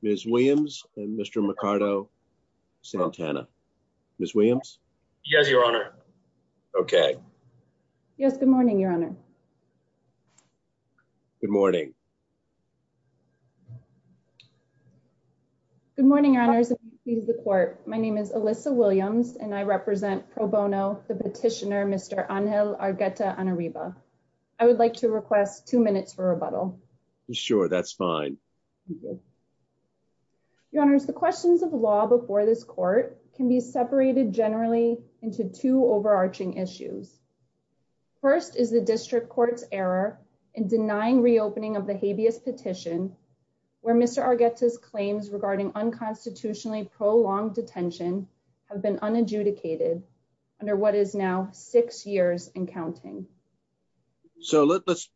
Ms. Williams and Mr. Mercado Santana. Ms. Williams. Yes, Your Honor. Okay. Yes, good morning, Your Honor. Good morning. Good morning, Your Honor. My name is Alyssa Williams, and I represent Pro Bono, the petitioner, Mr. Angel Argueta Anariba. I would like to request two minutes for rebuttal. Sure, that's fine. Your Honor, the questions of the law before this court can be separated generally into two overarching issues. First is the district court's error in denying reopening of the habeas petition, where Mr. Argueta's claims regarding unconstitutionally prolonged detention have been unadjudicated under what is now six years and counting. So let's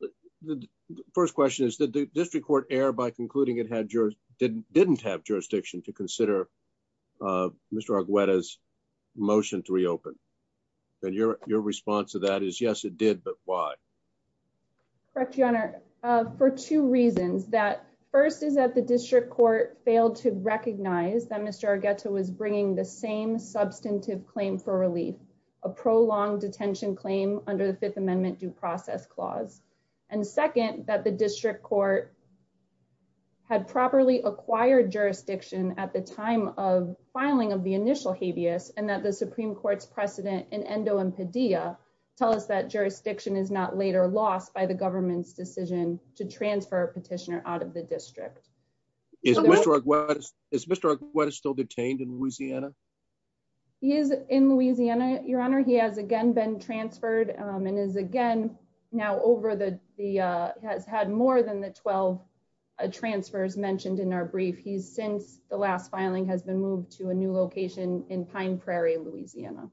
the first question is that the district court error by concluding it had jurors didn't didn't have jurisdiction to consider Mr. Argueta's motion to reopen. And your response to that is yes, it did. But why? Correct, Your Honor, for two reasons. That first is that the district court failed to recognize that Mr. Argueta was bringing the same substantive claim for relief, a prolonged detention claim under the Fifth Amendment due process clause. And second, that the district court had properly acquired jurisdiction at the time of filing of the initial habeas and that the Supreme Court's precedent in endo and pedia tell us that jurisdiction is not later lost by the government's decision to transfer a petitioner out of the district. Is Mr. Argueta still detained in Louisiana? He is in Louisiana, Your Honor. He has again been transferred and is again now over the has had more than the 12 transfers mentioned in our brief. He's since the last filing has been moved to a new location in Pine Prairie, Louisiana.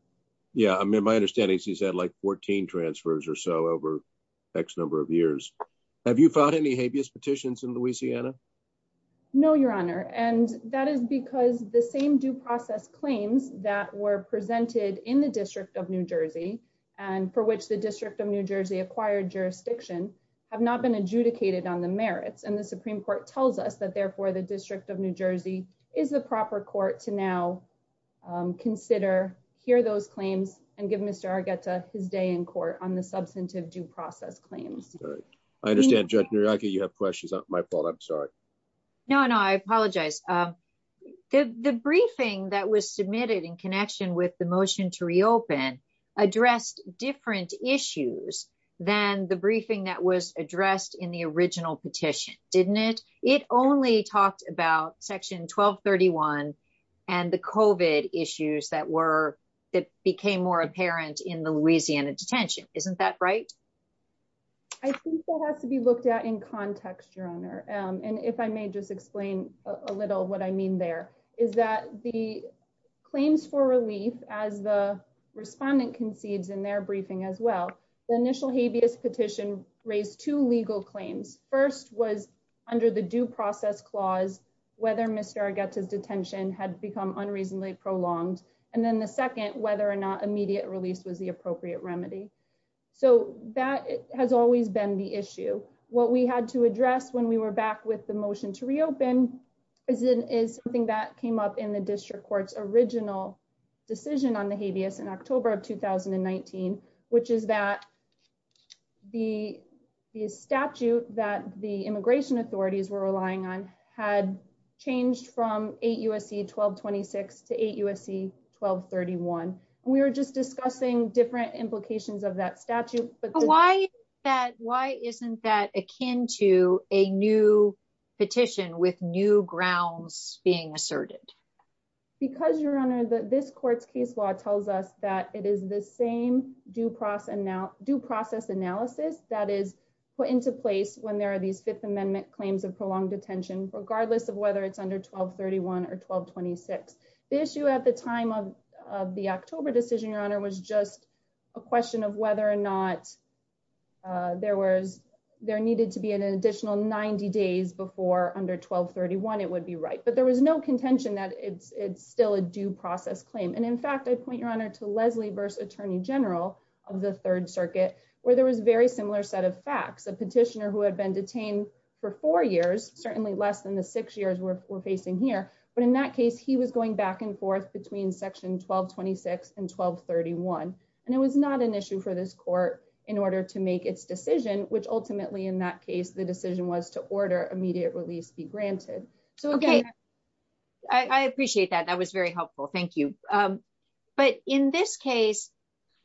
Yeah, I mean, my understanding is he's had like 14 transfers or so over X number of years. Have you found any habeas petitions in Louisiana? No, Your Honor. And that is because the same due process claims that were presented in the District of New Jersey and for which the District of New Jersey acquired jurisdiction have not been adjudicated on the merits. And the Supreme Court tells us that therefore the District of New Jersey is the proper court to now consider here those claims and give Mr. Argueta his day in court on the substantive due process claims. I understand, Judge Muriaka, you have questions. It's not my fault. I'm sorry. No, no, I apologize. The briefing that was submitted in connection with the motion to reopen addressed different issues than the briefing that was addressed in the original petition, didn't it? It only talked about Section 1231 and the COVID issues that were that became more apparent in the Louisiana detention. Isn't that right? It has to be looked at in context, Your Honor. And if I may just explain a little what I mean there is that the claims for relief as the respondent concedes in their briefing as well. The initial habeas petition raised two legal claims. First was under the due process clause, whether Mr. Argueta's detention had become unreasonably prolonged. And then the second, whether or not immediate release was the appropriate remedy. So that has always been the issue. What we had to address when we were back with the motion to reopen is something that came up in the district court's original decision on the habeas in October of 2019, which is that the statute that the immigration authorities were relying on had changed from 8 U.S.C. 1226 to 8 U.S.C. 1231. We were just discussing different implications of that statute. Why isn't that akin to a new petition with new grounds being asserted? Because, Your Honor, this court's case law tells us that it is the same due process analysis that is put into place when there are these Fifth Amendment claims of prolonged detention, regardless of whether it's under 1231 or 1226. The issue at the time of the October decision, Your Honor, was just a question of whether or not there needed to be an additional 90 days before under 1231 it would be right. But there was no contention that it's still a due process claim. And, in fact, I point, Your Honor, to Leslie Burse, Attorney General of the Third Circuit, where there was a very similar set of facts. A petitioner who had been detained for four years, certainly less than the six years we're facing here. But in that case, he was going back and forth between Section 1226 and 1231. And it was not an issue for this court in order to make its decision, which ultimately, in that case, the decision was to order immediate release be granted. I appreciate that. That was very helpful. Thank you. But in this case,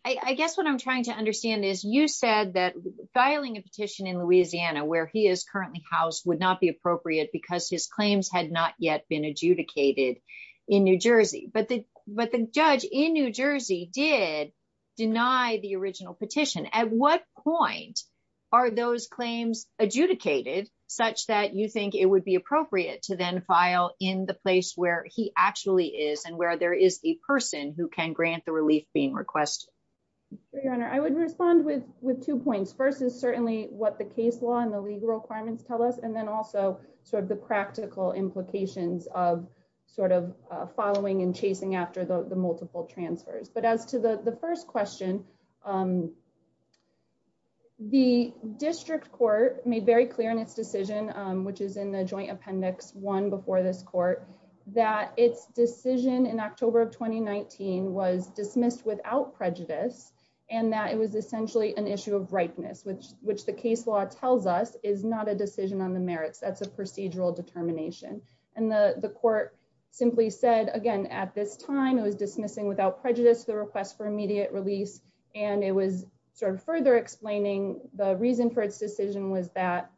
I guess what I'm trying to understand is you said that filing a petition in Louisiana, where he is currently housed, would not be appropriate because his claims had not yet been adjudicated in New Jersey. But the judge in New Jersey did deny the original petition. At what point are those claims adjudicated such that you think it would be appropriate to then file in the place where he actually is and where there is the person who can grant the relief being requested? Your Honor, I would respond with two points. First is certainly what the case law and the legal requirements tell us, and then also sort of the practical implications of sort of following and chasing after the multiple transfers. But as to the first question, the district court made very clear in its decision, which is in the Joint Appendix 1 before this court, that its decision in October of 2019 was dismissed without prejudice and that it was essentially an issue of ripeness, which the case law tells us is not a decision on the merits. That's a procedural determination. And the court simply said, again, at this time, it was dismissing without prejudice the request for immediate release, and it was sort of further explaining the reason for its decision was that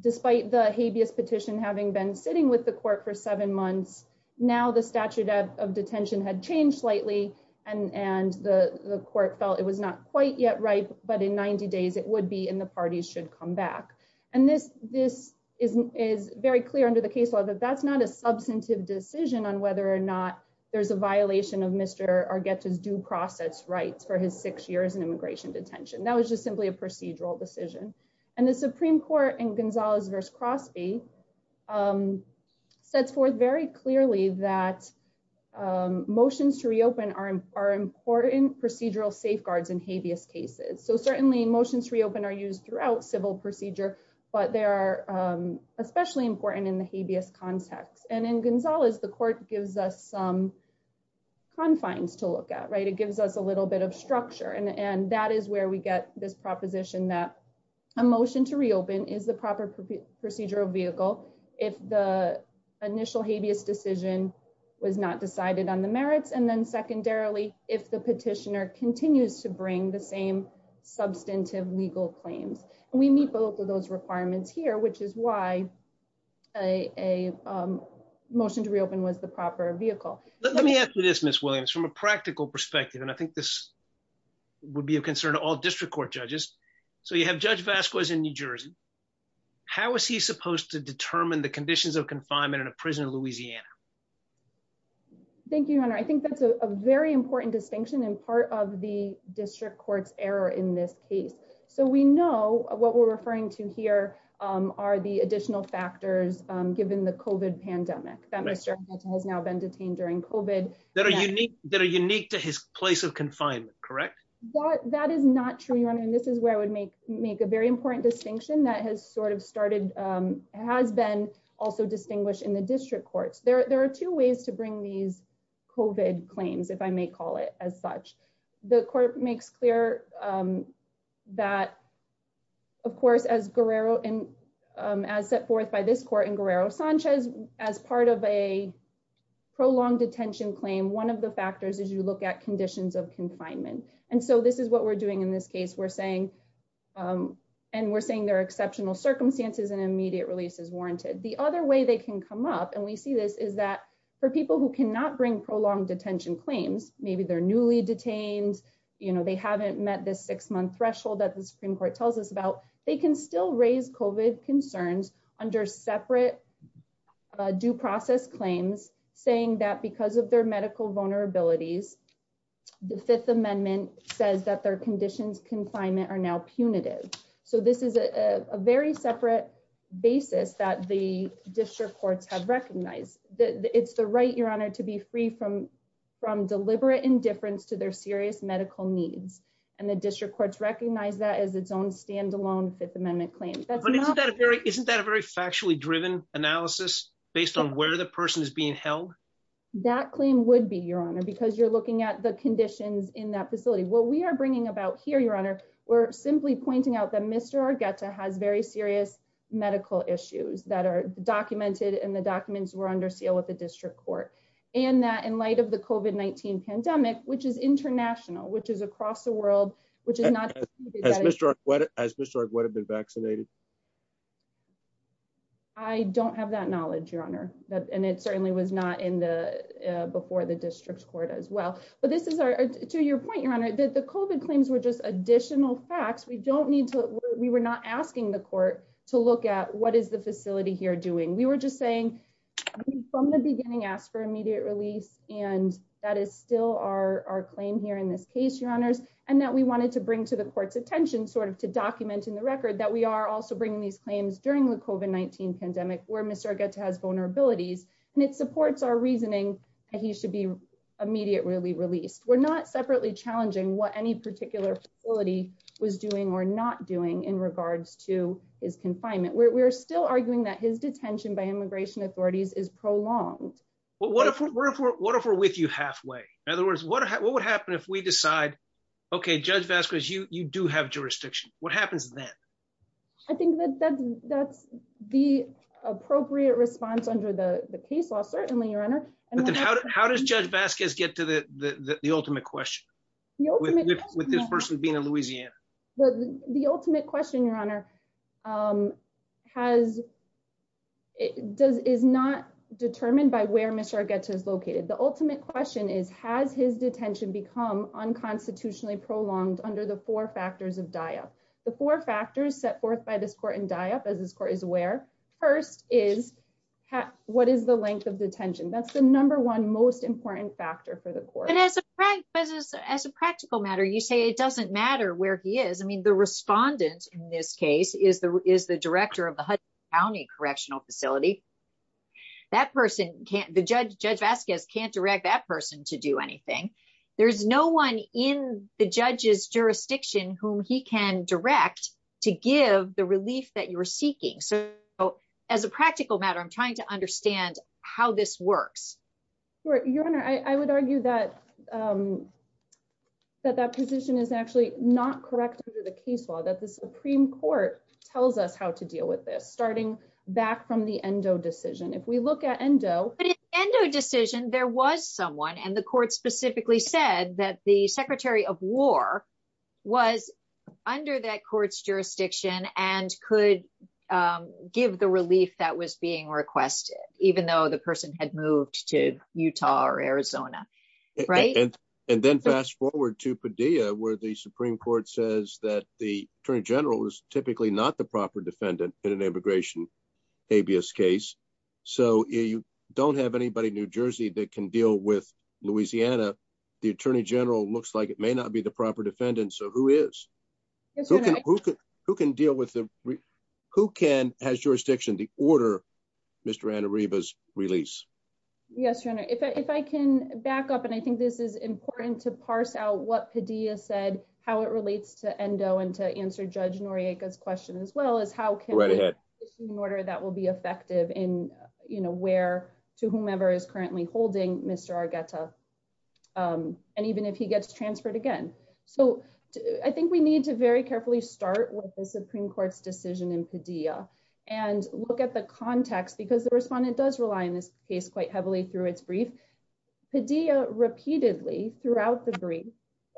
despite the habeas petition having been sitting with the court for seven months, now the statute of detention had changed slightly and the court felt it was not quite yet ripe, but in 90 days it would be and the parties should come back. And this is very clear under the case law that that's not a substantive decision on whether or not there's a violation of Mr. Argueta's due process rights for his six years in immigration detention. That was just simply a procedural decision. And the Supreme Court in Gonzalez v. Crosby sets forth very clearly that motions to reopen are important procedural safeguards in habeas cases. So certainly motions to reopen are used throughout civil procedure, but they are especially important in the habeas context. And in Gonzalez, the court gives us some confines to look at, right? It gives us a little bit of structure. And that is where we get this proposition that a motion to reopen is the proper procedural vehicle if the initial habeas decision was not decided on the merits, and then secondarily, if the petitioner continues to bring the same substantive legal claims. And we meet both of those requirements here, which is why a motion to reopen was the proper vehicle. Let me ask you this, Ms. Williams, from a practical perspective, and I think this would be a concern to all district court judges. So you have Judge Vasquez in New Jersey. How is he supposed to determine the conditions of confinement in a prison in Louisiana? Thank you, Your Honor. I think that's a very important distinction and part of the district court's error in this case. So we know what we're referring to here are the additional factors given the COVID pandemic that Mr. Armenta has now been detained during COVID. That are unique to his place of confinement, correct? That is not true, Your Honor, and this is where I would make a very important distinction that has sort of started, has been also distinguished in the district courts. There are two ways to bring these COVID claims, if I may call it as such. The court makes clear that, of course, as set forth by this court in Guerrero Sanchez, as part of a prolonged detention claim, one of the factors is you look at conditions of confinement. And so this is what we're doing in this case. We're saying, and we're saying there are exceptional circumstances and immediate release is warranted. The other way they can come up, and we see this, is that for people who cannot bring prolonged detention claims, maybe they're newly detained, you know, they haven't met this six month threshold that the Supreme Court tells us about, they can still raise COVID concerns under separate due process claims saying that because of their medical vulnerabilities, the Fifth Amendment says that their conditions confinement are now punitive. So this is a very separate basis that the district courts have recognized. It's the right, Your Honor, to be free from deliberate indifference to their serious medical needs, and the district courts recognize that as its own standalone Fifth Amendment claim. Isn't that a very factually driven analysis based on where the person is being held? That claim would be, Your Honor, because you're looking at the conditions in that facility. What we are bringing about here, Your Honor, we're simply pointing out that Mr. Argueta has very serious medical issues that are documented and the documents were under seal with the district court, and that in light of the COVID-19 pandemic, which is international, which is across the world, which is not... As Mr. Argueta would have been vaccinated? I don't have that knowledge, Your Honor, and it certainly was not in the before the district court as well. But this is our, to your point, Your Honor, that the COVID claims were just additional facts. We don't need to, we were not asking the court to look at what is the facility here doing. We were just saying from the beginning, ask for immediate release. And that is still our claim here in this case, Your Honors, and that we wanted to bring to the court's attention sort of to document in the record that we are also bringing these claims during the COVID-19 pandemic where Mr. Argueta has vulnerabilities, and it supports our reasoning that he should be immediately released. We're not separately challenging what any particular facility was doing or not doing in regards to his confinement. We're still arguing that his detention by immigration authorities is prolonged. What if we're with you halfway? In other words, what would happen if we decide, okay, Judge Vasquez, you do have jurisdiction. What happens then? I think that that's the appropriate response under the case law, certainly, Your Honor. How does Judge Vasquez get to the ultimate question? With this person being in Louisiana? The ultimate question, Your Honor, is not determined by where Mr. Argueta is located. The ultimate question is, has his detention become unconstitutionally prolonged under the four factors of die-up? The four factors set forth by this court in die-up, as this court is aware, first is, what is the length of detention? That's the number one most important factor for the court. As a practical matter, you say it doesn't matter where he is. The respondent, in this case, is the director of the Hudson County Correctional Facility. Judge Vasquez can't direct that person to do anything. There's no one in the judge's jurisdiction whom he can direct to give the relief that you're seeking. As a practical matter, I'm trying to understand how this works. Your Honor, I would argue that that position is actually not correct under the case law, that the Supreme Court tells us how to deal with this, starting back from the Endo decision. But in the Endo decision, there was someone, and the court specifically said that the Secretary of War was under that court's jurisdiction and could give the relief that was being requested, even though the person had moved to Utah or Arizona. And then fast forward to Padilla, where the Supreme Court says that the Attorney General is typically not the proper defendant in an immigration habeas case. So you don't have anybody in New Jersey that can deal with Louisiana. The Attorney General looks like it may not be the proper defendant, so who is? Who has jurisdiction to order Mr. Anariba's release? Yes, Your Honor, if I can back up, and I think this is important to parse out what Padilla said, how it relates to Endo and to answer Judge Noriega's question as well as how can order that will be effective in, you know, where to whomever is currently holding Mr. And even if he gets transferred again. So I think we need to very carefully start with the Supreme Court's decision in Padilla and look at the context because the respondent does rely on this case quite heavily through its brief. And Padilla repeatedly throughout the brief,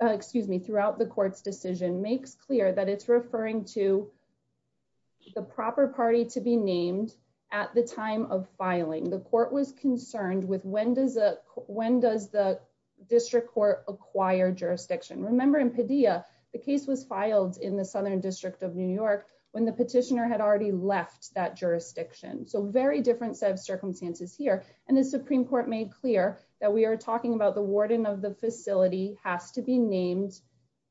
excuse me, throughout the court's decision makes clear that it's referring to the proper party to be named at the time of filing. The court was concerned with when does the district court acquire jurisdiction. Remember in Padilla, the case was filed in the Southern District of New York when the petitioner had already left that jurisdiction. So very different set of circumstances here. And the Supreme Court made clear that we are talking about the warden of the facility has to be named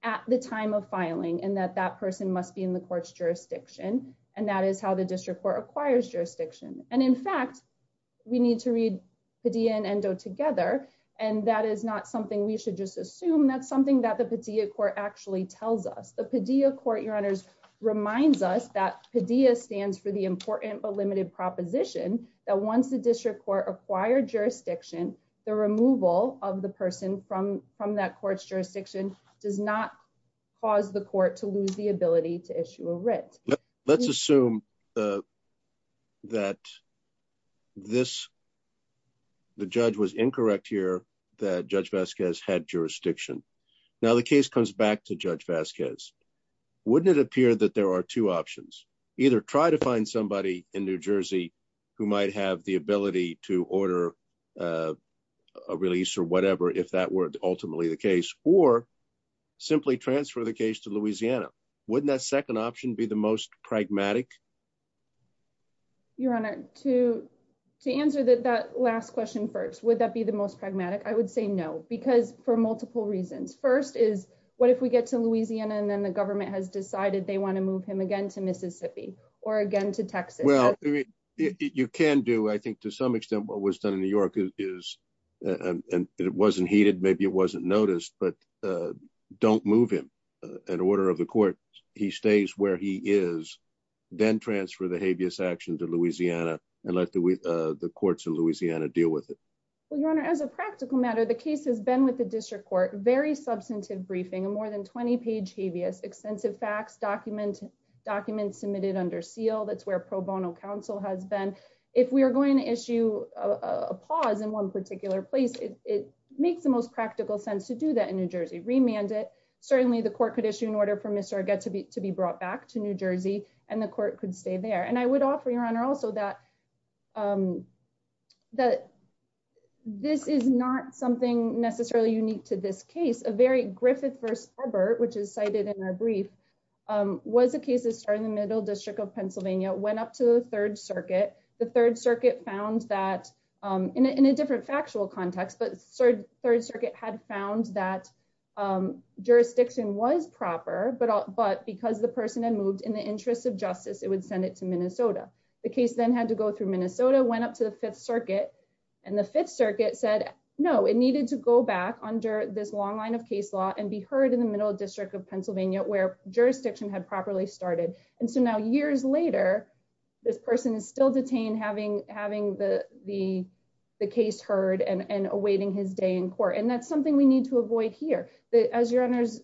at the time of filing and that that person must be in the court's jurisdiction. And that is how the district court acquires jurisdiction. And in fact, we need to read Padilla and Endo together. And that is not something we should just assume that's something that the Padilla court actually tells us. The Padilla court, your honors, reminds us that Padilla stands for the important but limited proposition that once the district court acquired jurisdiction, the removal of the person from from that court's jurisdiction does not cause the court to lose the ability to issue a writ. Let's assume that this. The judge was incorrect here that Judge Vasquez had jurisdiction. Now the case comes back to Judge Vasquez. Wouldn't it appear that there are two options, either try to find somebody in New Jersey, who might have the ability to order a release or whatever if that were ultimately the case, or simply transfer the case to Louisiana, wouldn't that second option be the most pragmatic. Your Honor, to, to answer that that last question first would that be the most pragmatic I would say no, because for multiple reasons. First is, what if we get to Louisiana and then the government has decided they want to move him again to Mississippi, or again to Mississippi, then transfer the habeas action to Louisiana, and let the courts in Louisiana deal with it. Well your honor as a practical matter the case has been with the district court very substantive briefing and more than 20 page habeas extensive facts document documents submitted under seal that's where pro bono counsel has been. If we are going to issue a pause in one particular place, it makes the most practical sense to do that in New Jersey remanded. Certainly the court could issue an order for Mr get to be to be brought back to New Jersey, and the court could stay there and I would offer your honor also that, that this is not something necessarily unique to this case a very Griffith first ever, which is cited in our brief was a case of starting the middle district of Pennsylvania went up to the Third Circuit, the Third Circuit found that in a different factual context but third, third circuit had found that jurisdiction was proper but but because the person and moved the case in the interest of justice, it would send it to Minnesota, the case then had to go through Minnesota went up to the Fifth Circuit, and the Fifth Circuit said no it needed to go back under this long line of case law and be heard in the middle district of Pennsylvania where jurisdiction had properly started. And so now years later, this person is still detained having having the, the, the case heard and awaiting his day in court and that's something we need to avoid here that as your honors.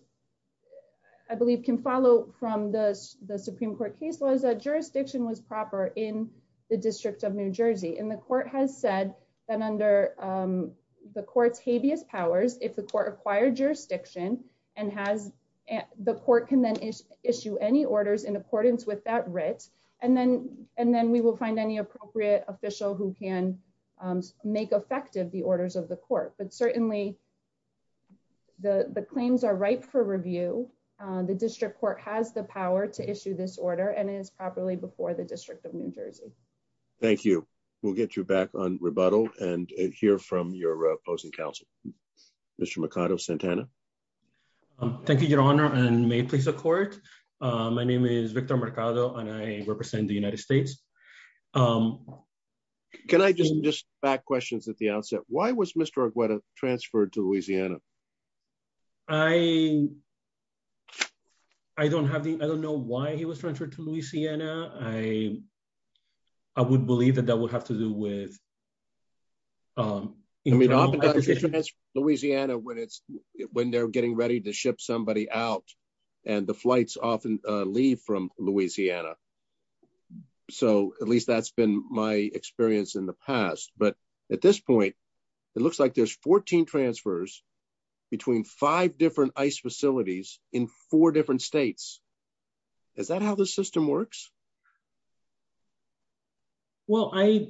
I believe can follow from this, the Supreme Court case was a jurisdiction was proper in the district of New Jersey in the court has said that under the courts habeas powers, if the court acquired jurisdiction and has the court can then issue any orders in accordance with that writ, and then, and then we will find any appropriate official who can make effective the orders of the court but certainly the claims are right for review. The district court has the power to issue this order and is properly before the district of New Jersey. Thank you. We'll get you back on rebuttal and hear from your opposing counsel. Mr Mikado Santana. Thank you, Your Honor, and may please support. My name is Victor Mercado and I represent the United States. Can I just just back questions at the outset, why was Mr Agueda transferred to Louisiana. I, I don't have the, I don't know why he was transferred to Louisiana, I, I would believe that that would have to do with Louisiana when it's when they're getting ready to ship somebody out, and the flights often leave from Louisiana. So, at least that's been my experience in the past, but at this point, it looks like there's 14 transfers between five different ice facilities in four different states. Is that how the system works. Well, I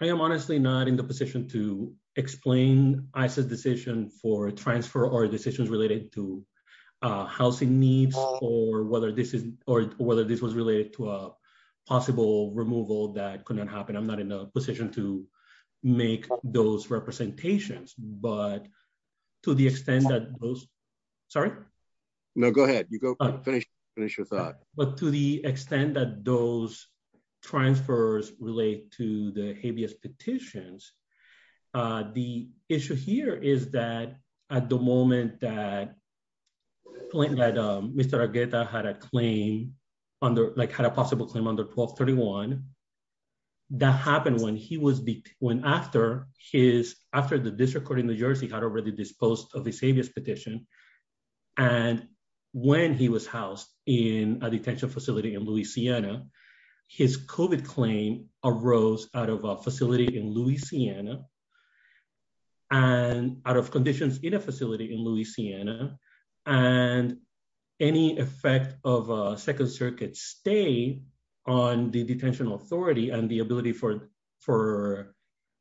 am honestly not in the position to explain, I said decision for transfer or decisions related to housing needs, or whether this is, or whether this was related to a possible removal that could not happen I'm not in a position to make those representations, but to the extent that those. Sorry. No, go ahead, you go finish, finish your thought, but to the extent that those transfers relate to the habeas petitions. The issue here is that at the moment that point that Mr Agueda had a claim under like had a possible claim under 1231 that happened when he was when after his after the district court in New Jersey had already disposed of the habeas petition. And when he was housed in a detention facility in Louisiana. His COVID claim arose out of a facility in Louisiana. And out of conditions in a facility in Louisiana, and any effect of Second Circuit stay on the detention authority and the ability for for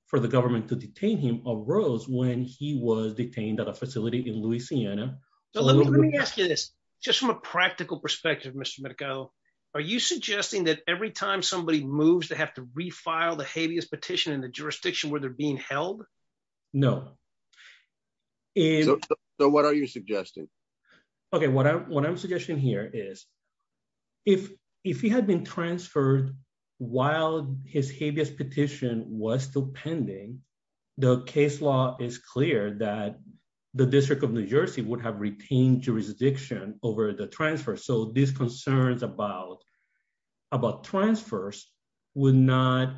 for the government to detain him arose when he was detained at a facility in Louisiana. Let me ask you this, just from a practical perspective, Mr. Are you suggesting that every time somebody moves to have to refile the habeas petition in the jurisdiction where they're being held. No. So what are you suggesting. Okay, what I'm what I'm suggesting here is, if, if he had been transferred while his habeas petition was still pending the case law is clear that the District of New Jersey would have retained jurisdiction over the transfer so these concerns about about transfers would not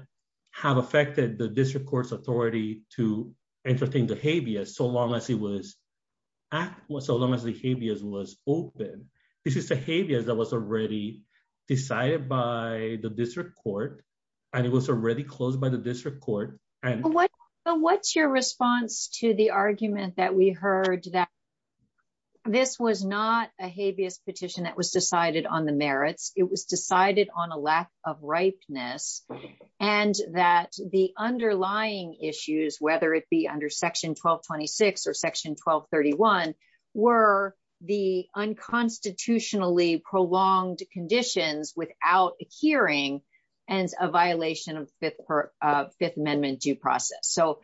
have affected the district courts authority to entertain the habeas so long as he was so long as the habeas was open. This is the habeas that was already decided by the district court, and it was already closed by the district court. What's your response to the argument that we heard that this was not a habeas petition that was decided on the merits, it was decided on a lack of ripeness, and that the underlying issues, whether it be under section 1226 or section 1231 were the unconstitutionally prolonged conditions without a hearing and a violation of Fifth Amendment due process so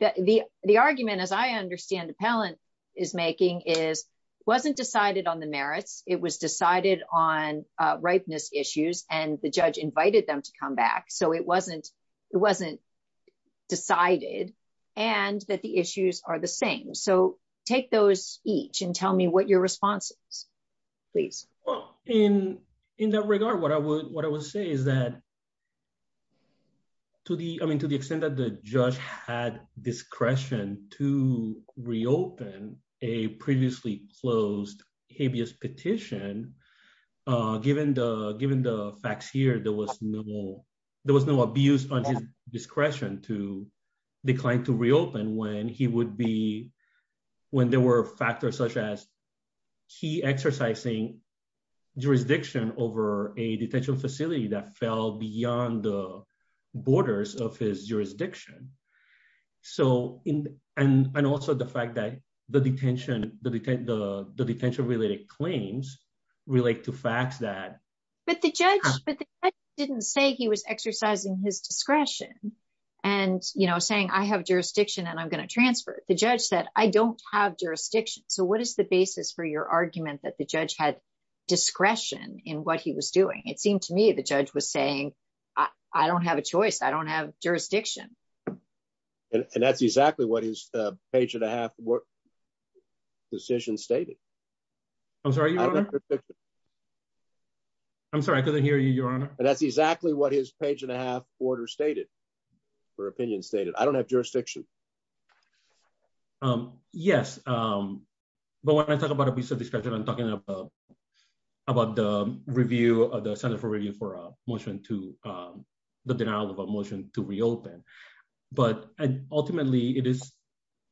that the, the argument as I understand the pellet is making is wasn't decided on the merits, it was decided on ripeness issues and the judge invited them to come back so it wasn't, it wasn't decided, and that the issues are the same so take those each and tell me what your responses, please. In, in that regard what I would what I would say is that to the, I mean to the extent that the judge had discretion to reopen a previously closed habeas petition. Given the, given the facts here there was no, there was no abuse on discretion to decline to reopen when he would be when there were factors such as he exercising jurisdiction over a detention facility that fell beyond the borders of his jurisdiction. So, in, and also the fact that the detention, the detention related claims relate to facts that, but the judge didn't say he was exercising his discretion. And, you know, saying I have jurisdiction and I'm going to transfer the judge that I don't have jurisdiction. So what is the basis for your argument that the judge had discretion in what he was doing, it seemed to me the judge was saying, I don't have a choice I don't have jurisdiction. And that's exactly what his page and a half. Decision stated. I'm sorry. I'm sorry I couldn't hear you, Your Honor, and that's exactly what his page and a half order stated for opinion stated I don't have jurisdiction. Yes. But when I talk about a piece of discussion I'm talking about, about the review of the Center for review for a motion to the denial of a motion to reopen. But ultimately it is.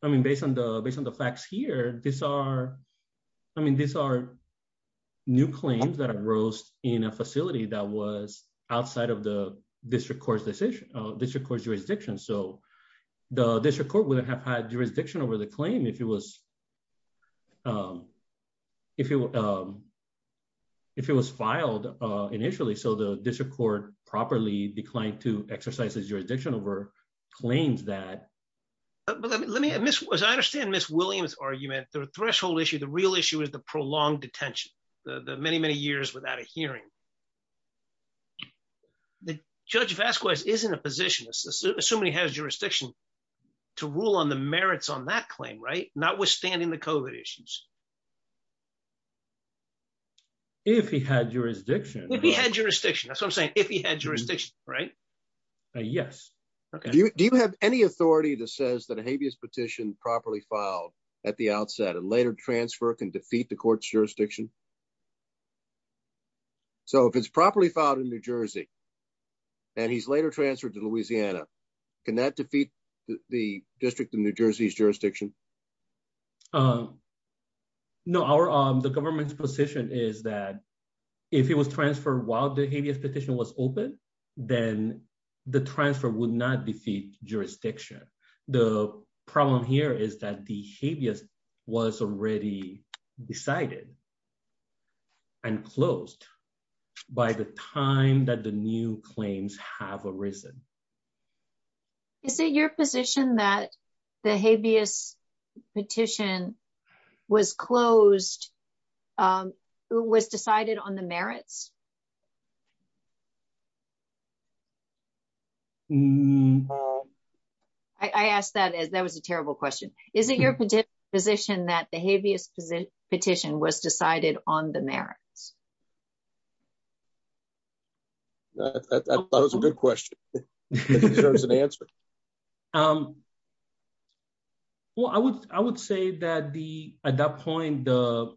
I mean, based on the based on the facts here, these are. I mean, these are new claims that arose in a facility that was outside of the district courts decision. This records jurisdiction so the district court wouldn't have had jurisdiction over the claim if it was. If it was filed initially so the district court properly declined to exercises jurisdiction over claims that let me miss was I understand Miss Williams argument, the threshold issue the real issue is the prolonged detention, the many many years without a hearing. The judge of Esquires isn't a position so many has jurisdiction to rule on the merits on that claim right not withstanding the coven issues. If he had jurisdiction, he had jurisdiction that's what I'm saying, if he had jurisdiction. Right. Yes. Okay. Do you have any authority that says that a habeas petition properly filed at the outset and later transfer can defeat the court's jurisdiction. So if it's properly filed in New Jersey. And he's later transferred to Louisiana. Can that defeat the district in New Jersey's jurisdiction. No, our, the government's position is that if it was transferred while the habeas petition was open, then the transfer would not defeat jurisdiction. The problem here is that the habeas was already decided and closed by the time that the new claims have arisen. Is it your position that the habeas petition was closed was decided on the merits. I asked that as that was a terrible question. Is it your position that the habeas petition was decided on the merits. That was a good question. There's an answer. Um, well I would, I would say that the, at that point, the,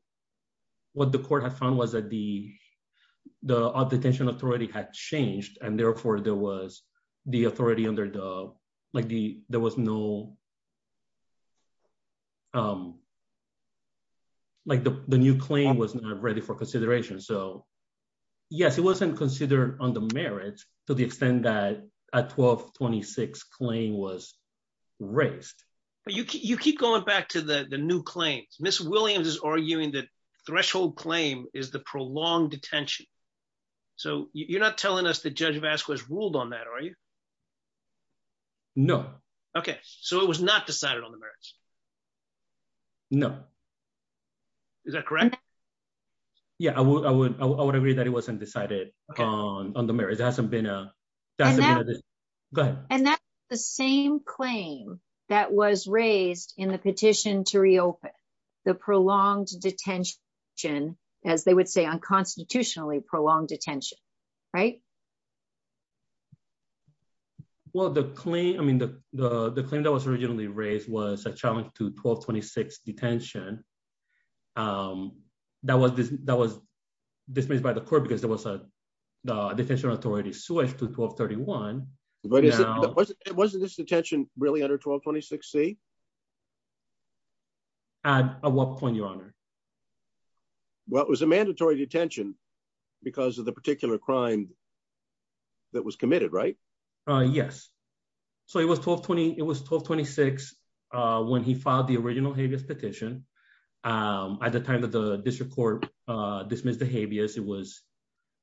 what the court had found was that the, the detention authority had changed and therefore there was the authority under the, like the, there was no. Like the new claim was not ready for consideration. So, yes, it wasn't considered on the merits, to the extent that at 1226 claim was raised, but you keep going back to the new claims Miss Williams is arguing that threshold claim is the prolonged detention. So, you're not telling us the judge Vasquez ruled on that are you. No. Okay, so it was not decided on the merits. No. Is that correct. Yeah, I would, I would, I would agree that it wasn't decided on on the merits hasn't been. But, and that's the same claim that was raised in the petition to reopen the prolonged detention, as they would say unconstitutionally prolonged detention. Right. Well the clean I mean the, the claim that was originally raised was a challenge to 1226 detention. That was, that was dismissed by the court because there was a detention authority switch to 1231. Wasn't this detention, really under 1226 see. At what point, Your Honor. Well, it was a mandatory detention, because of the particular crime that was committed right. Yes. So it was 1220, it was 1226. When he filed the original habeas petition. At the time that the district court dismissed the habeas it was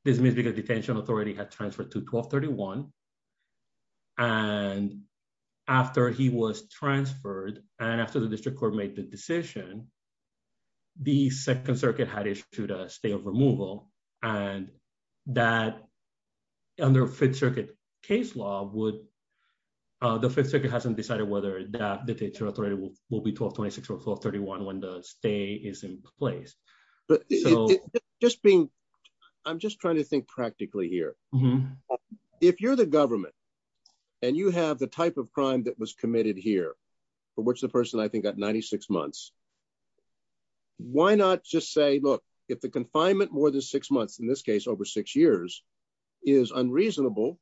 dismissed because detention authority had transferred to 1231. And after he was transferred, and after the district court made the decision. The Second Circuit had issued a stay of removal, and that under Fifth Circuit case law would the Fifth Circuit hasn't decided whether that the teacher authority will will be 1226 or 1231 when the stay is in place. Just being. I'm just trying to think practically here. If you're the government. And you have the type of crime that was committed here. But what's the person I think that 96 months. Why not just say look, if the confinement more than six months in this case over six years is unreasonable.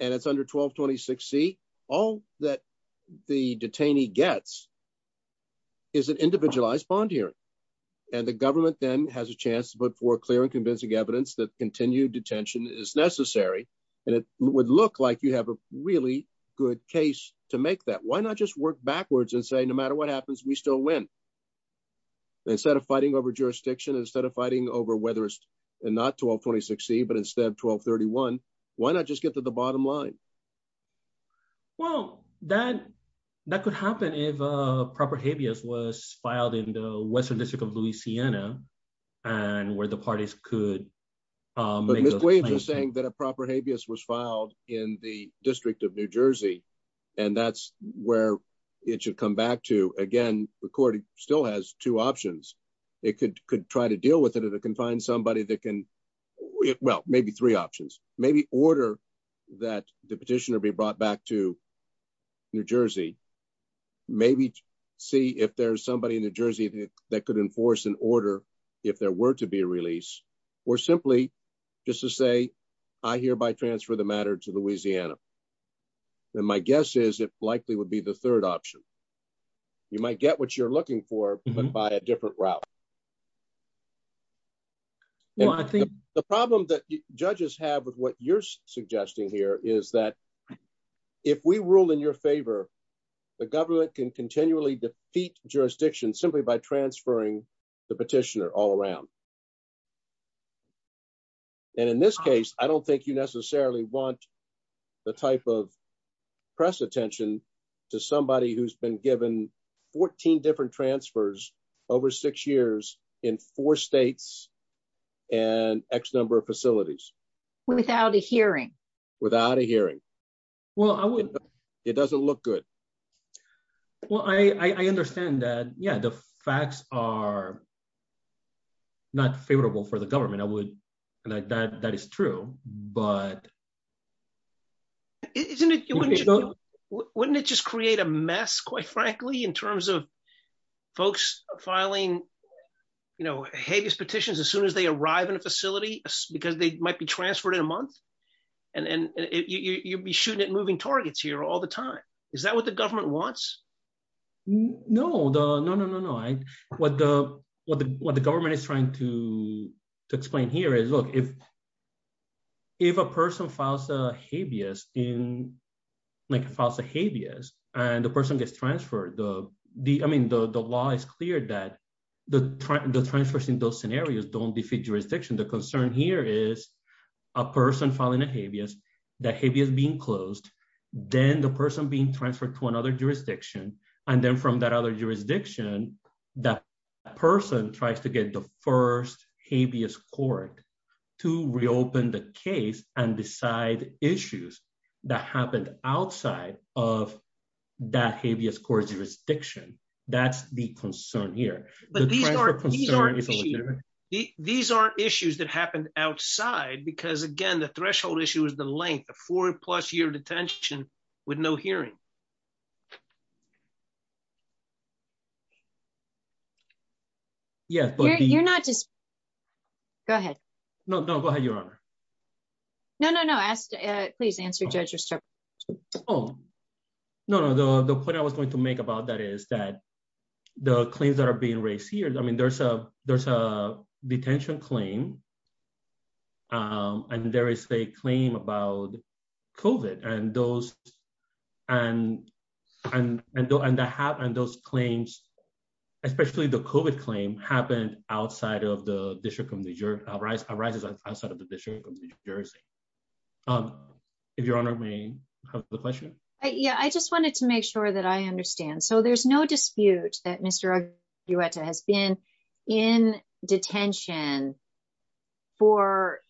And it's under 1226 see all that the detainee gets is an individualized bond here. And the government then has a chance but for clear and convincing evidence that continued detention is necessary. And it would look like you have a really good case to make that why not just work backwards and say no matter what happens we still win. Instead of fighting over jurisdiction instead of fighting over whether it's not 1226 see but instead of 1231. Why not just get to the bottom line. Well, that, that could happen if a proper habeas was filed in the Western District of Louisiana, and where the parties could say that a proper habeas was filed in the District of New Jersey. And that's where it should come back to again recording still has two options. It could could try to deal with it and it can find somebody that can well maybe three options, maybe order that the petitioner be brought back to New Jersey. Maybe see if there's somebody in New Jersey, that could enforce an order. If there were to be released, or simply just to say, I hereby transfer the matter to Louisiana. And my guess is it likely would be the third option. You might get what you're looking for, but by a different route. Well, I think the problem that judges have with what you're suggesting here is that if we rule in your favor. The government can continually defeat jurisdiction simply by transferring the petitioner all around. And in this case, I don't think you necessarily want the type of press attention to somebody who's been given 14 different transfers over six years in four states and X number of facilities without a hearing without a hearing. Well, I wouldn't. It doesn't look good. Well, I understand that. Yeah, the facts are not favorable for the government, I would like that that is true, but isn't it. Wouldn't it just create a mess quite frankly in terms of folks filing, you know, habeas petitions as soon as they arrive in a facility, because they might be transferred in a month. And you'd be shooting at moving targets here all the time. Is that what the government wants. No, no, no, no, no. I, what the, what the, what the government is trying to explain here is look if if a person files a habeas in like false habeas, and the person gets transferred the, the, I mean the law is clear that the, the transfers in those and then from that other jurisdiction that person tries to get the first habeas court to reopen the case and decide issues that happened outside of that habeas court jurisdiction. That's the concern here. These are issues that happened outside because again the threshold issue is the length of four plus year detention, with no hearing. Yes, but you're not just. Go ahead. No, no, go ahead, Your Honor. No, no, no. Please answer judges. Oh, no, no, no, the point I was going to make about that is that the claims that are being raised here I mean there's a, there's a detention claim. And there is a claim about COVID and those. And, and, and the and the half and those claims, especially the COVID claim happened outside of the district of New Jersey, arises outside of the district of New Jersey. If Your Honor may have the question. Yeah, I just wanted to make sure that I understand so there's no dispute that Mr. has been in detention for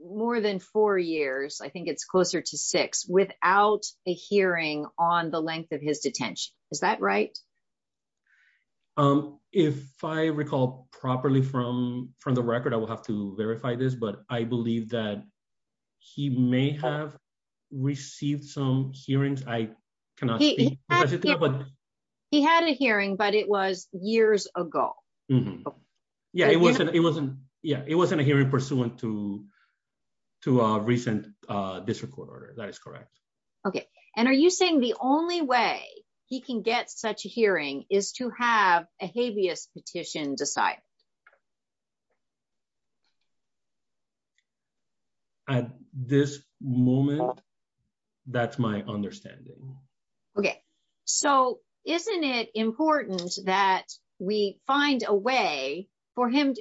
more than four years I think it's closer to six without a hearing on the length of his detention. Is that right. Um, if I recall properly from from the record I will have to verify this but I believe that he may have received some hearings I cannot. He had a hearing but it was years ago. Yeah, it wasn't it wasn't. Yeah, it wasn't a hearing pursuant to to recent district court order that is correct. Okay. And are you saying the only way he can get such a hearing. Is to have a habeas petition decide at this moment. That's my understanding. Okay, so isn't it important that we find a way for him.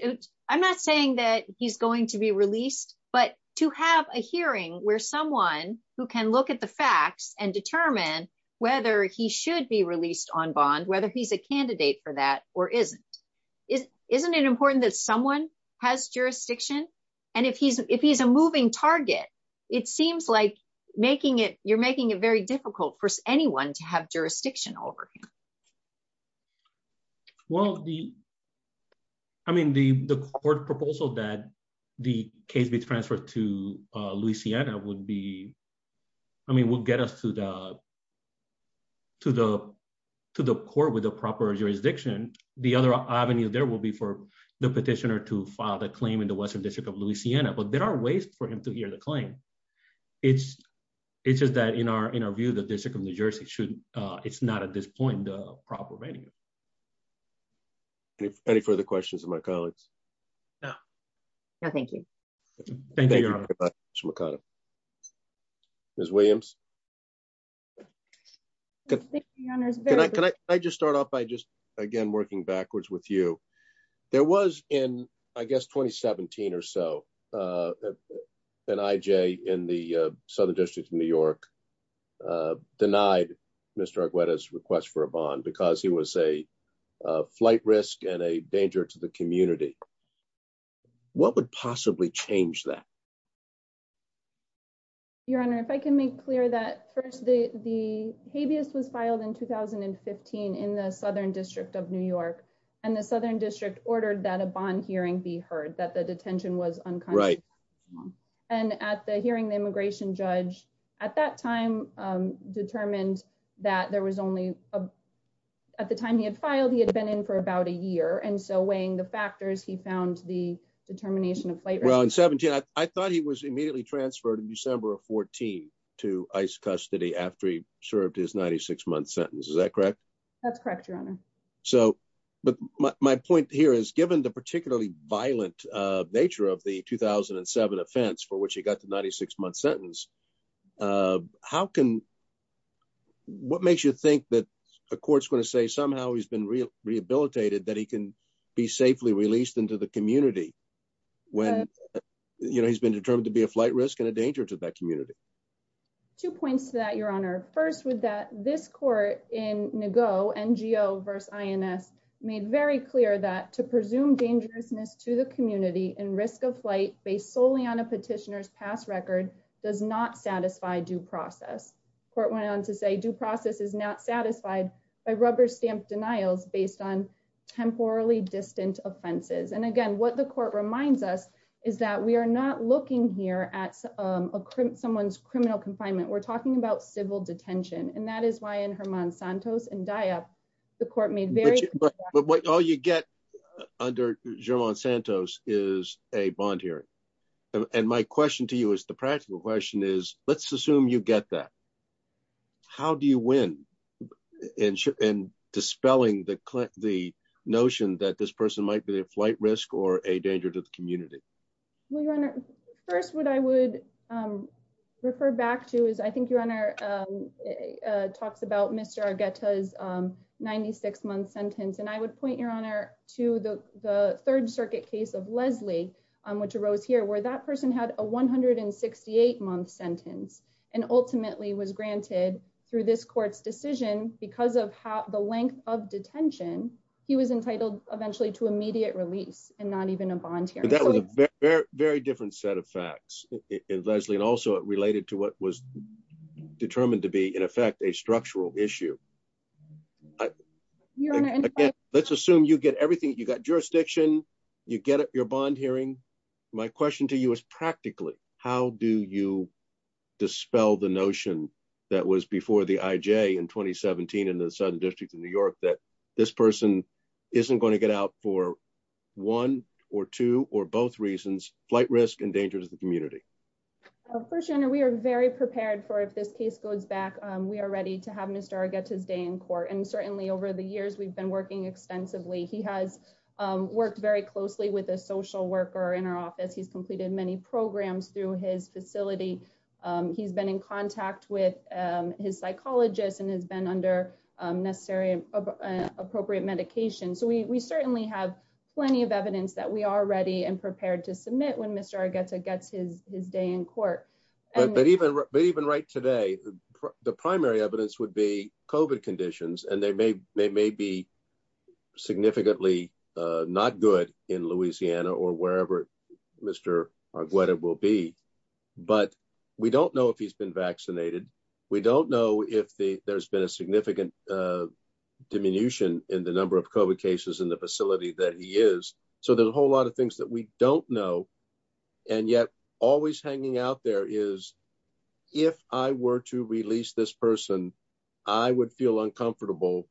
I'm not saying that he's going to be released, but to have a hearing where someone who can look at the facts and determine whether he should be released on bond whether he's a candidate for that, or isn't, isn't it important that someone has jurisdiction. And if he's if he's a moving target. It seems like making it, you're making it very difficult for anyone to have jurisdiction over. Well, the. I mean the the court proposal that the case be transferred to Louisiana would be. I mean we'll get us to the, to the, to the court with a proper jurisdiction. The other avenue there will be for the petitioner to file the claim in the Western District of Louisiana but there are ways for him to hear the claim. It's, it's just that in our, in our view the district of New Jersey should. It's not at this point, proper venue. Any further questions of my colleagues. Thank you. Thank you. Ms Williams. Can I just start off by just, again working backwards with you. There was in, I guess 2017 or so, and IJ in the Southern District of New York, denied. Mr. Aguero's request for a bond because he was a flight risk and a danger to the community. What would possibly change that. Your Honor, if I can make clear that first the, the habeas was filed in 2015 in the Southern District of New York, and the Southern District ordered that a bond hearing be heard that the detention was uncommon. And at the hearing the immigration judge at that time, determined that there was only. At the time he had filed he had been in for about a year and so weighing the factors he found the determination of flavor on 17 I thought he was immediately transferred in December of 14 to ice custody after he served his 96 month sentence Is that correct. That's correct. So, but my point here is given the particularly violent nature of the 2007 offense for which he got the 96 month sentence. How can. What makes you think that the courts going to say somehow he's been rehabilitated that he can be safely released into the community. When you know he's been determined to be a flight risk and a danger to that community. Two points that your honor first with that this court in Nago NGO verse ins made very clear that to presume dangerousness to the community and risk of flight based solely on a petitioners past record does not satisfy due process court went on to say We're talking about civil detention and that is why in her mon Santos and die up the court made. But what all you get under German Santos is a bond hearing. And my question to you is the practical question is, let's assume you get that. How do you win in ship and dispelling the click the notion that this person might be a flight risk or a danger to the community. We run it first what I would refer back to is I think your honor talks about Mr get his 96 month sentence and I would point your honor to the Third Circuit case of Leslie, which arose here where that person had a 168 month sentence, and ultimately was granted through this court's decision because of how the length of detention. He was entitled, eventually to immediate release, and not even a bond here that was very, very different set of facts in Leslie and also related to what was determined to be in effect a structural issue. Let's assume you get everything you got jurisdiction, you get your bond hearing. My question to you is practically, how do you dispel the notion that was before the IJ in 2017 in the Southern District of New York that this person isn't going to get out for one or two, or both reasons, flight risk and dangers the community. First, you know we are very prepared for if this case goes back, we are ready to have Mr get his day in court and certainly over the years we've been working extensively he has worked very closely with a social worker in our office he's completed many programs through his facility. He's been in contact with his psychologist and has been under necessary appropriate medication so we certainly have plenty of evidence that we are ready and prepared to submit when Mr gets it gets his, his day in court. But even, even right today, the primary evidence would be covert conditions and they may, they may be significantly. Not good in Louisiana or wherever. Mr. What it will be, but we don't know if he's been vaccinated. We don't know if the there's been a significant diminution in the number of cases in the facility that he is. So there's a whole lot of things that we don't know. And yet, always hanging out there is. If I were to release this person. I would feel uncomfortable.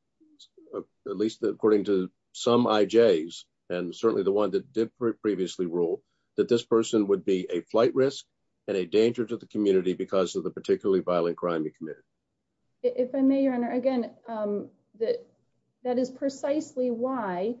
At least according to some IJs, and certainly the one that did previously rule that this person would be a flight risk and a danger to the community because of the particularly violent crime committed. If I may your honor again that that is precisely why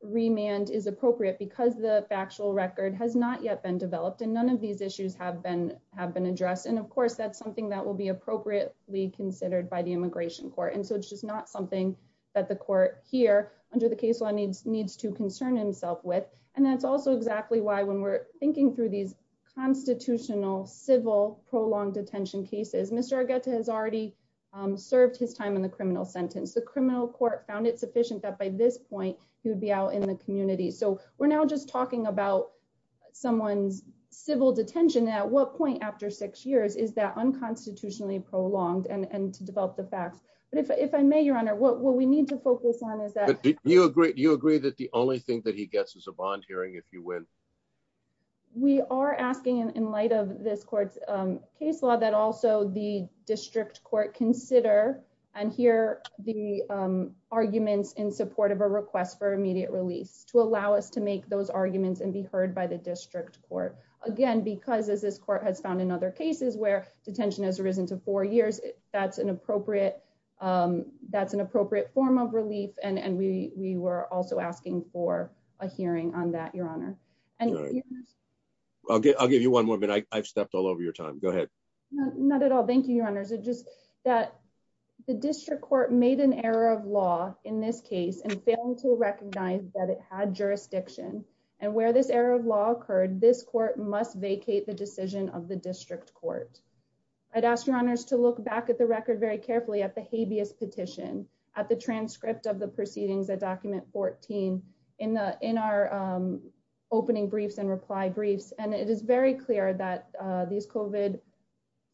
remand is appropriate because the factual record has not yet been developed and none of these issues have been have been addressed and of course that's something that will be appropriately considered by the immigration court and so it's just not something that the court here under the case law needs needs to concern himself with. And that's also exactly why when we're thinking through these constitutional civil prolonged detention cases Mr get to has already served his time in the criminal sentence the criminal court found it sufficient that by this point, he would be out in the community so we're now just talking about someone's civil detention at what point after six years is that unconstitutionally prolonged and to develop the facts, but if I may your honor what we need to focus on is that you agree you agree that the only thing that he gets is a bond hearing if you win. We are asking in light of this court's case law that also the district court consider and hear the arguments in support of a request for immediate release to allow us to make those arguments and be heard by the district court. Again, because as this court has found in other cases where detention has risen to four years, that's an appropriate. That's an appropriate form of relief and and we were also asking for a hearing on that your honor. Okay, I'll give you one more minute I've stepped all over your time. Go ahead. Not at all. Thank you, your honors it just that the district court made an error of law in this case and failing to recognize that it had jurisdiction, and where this error of law occurred this court must vacate the decision of the district court. I'd ask your honors to look back at the record very carefully at the habeas petition at the transcript of the proceedings that document 14 in the in our opening briefs and reply briefs and it is very clear that these coven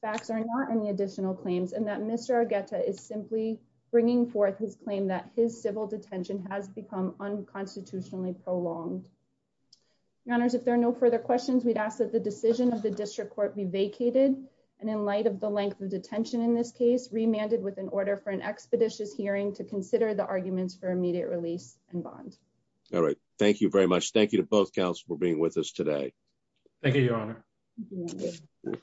facts are not any additional claims and that Mr get to is simply bringing forth his claim that his civil detention has become unconstitutionally prolonged runners if there are no further questions we'd ask that the decision of the district court be vacated. And in light of the length of detention in this case remanded with an order for an expeditious hearing to consider the arguments for immediate release and bond. All right. Thank you very much. Thank you to both counts for being with us today. Thank you, your honor.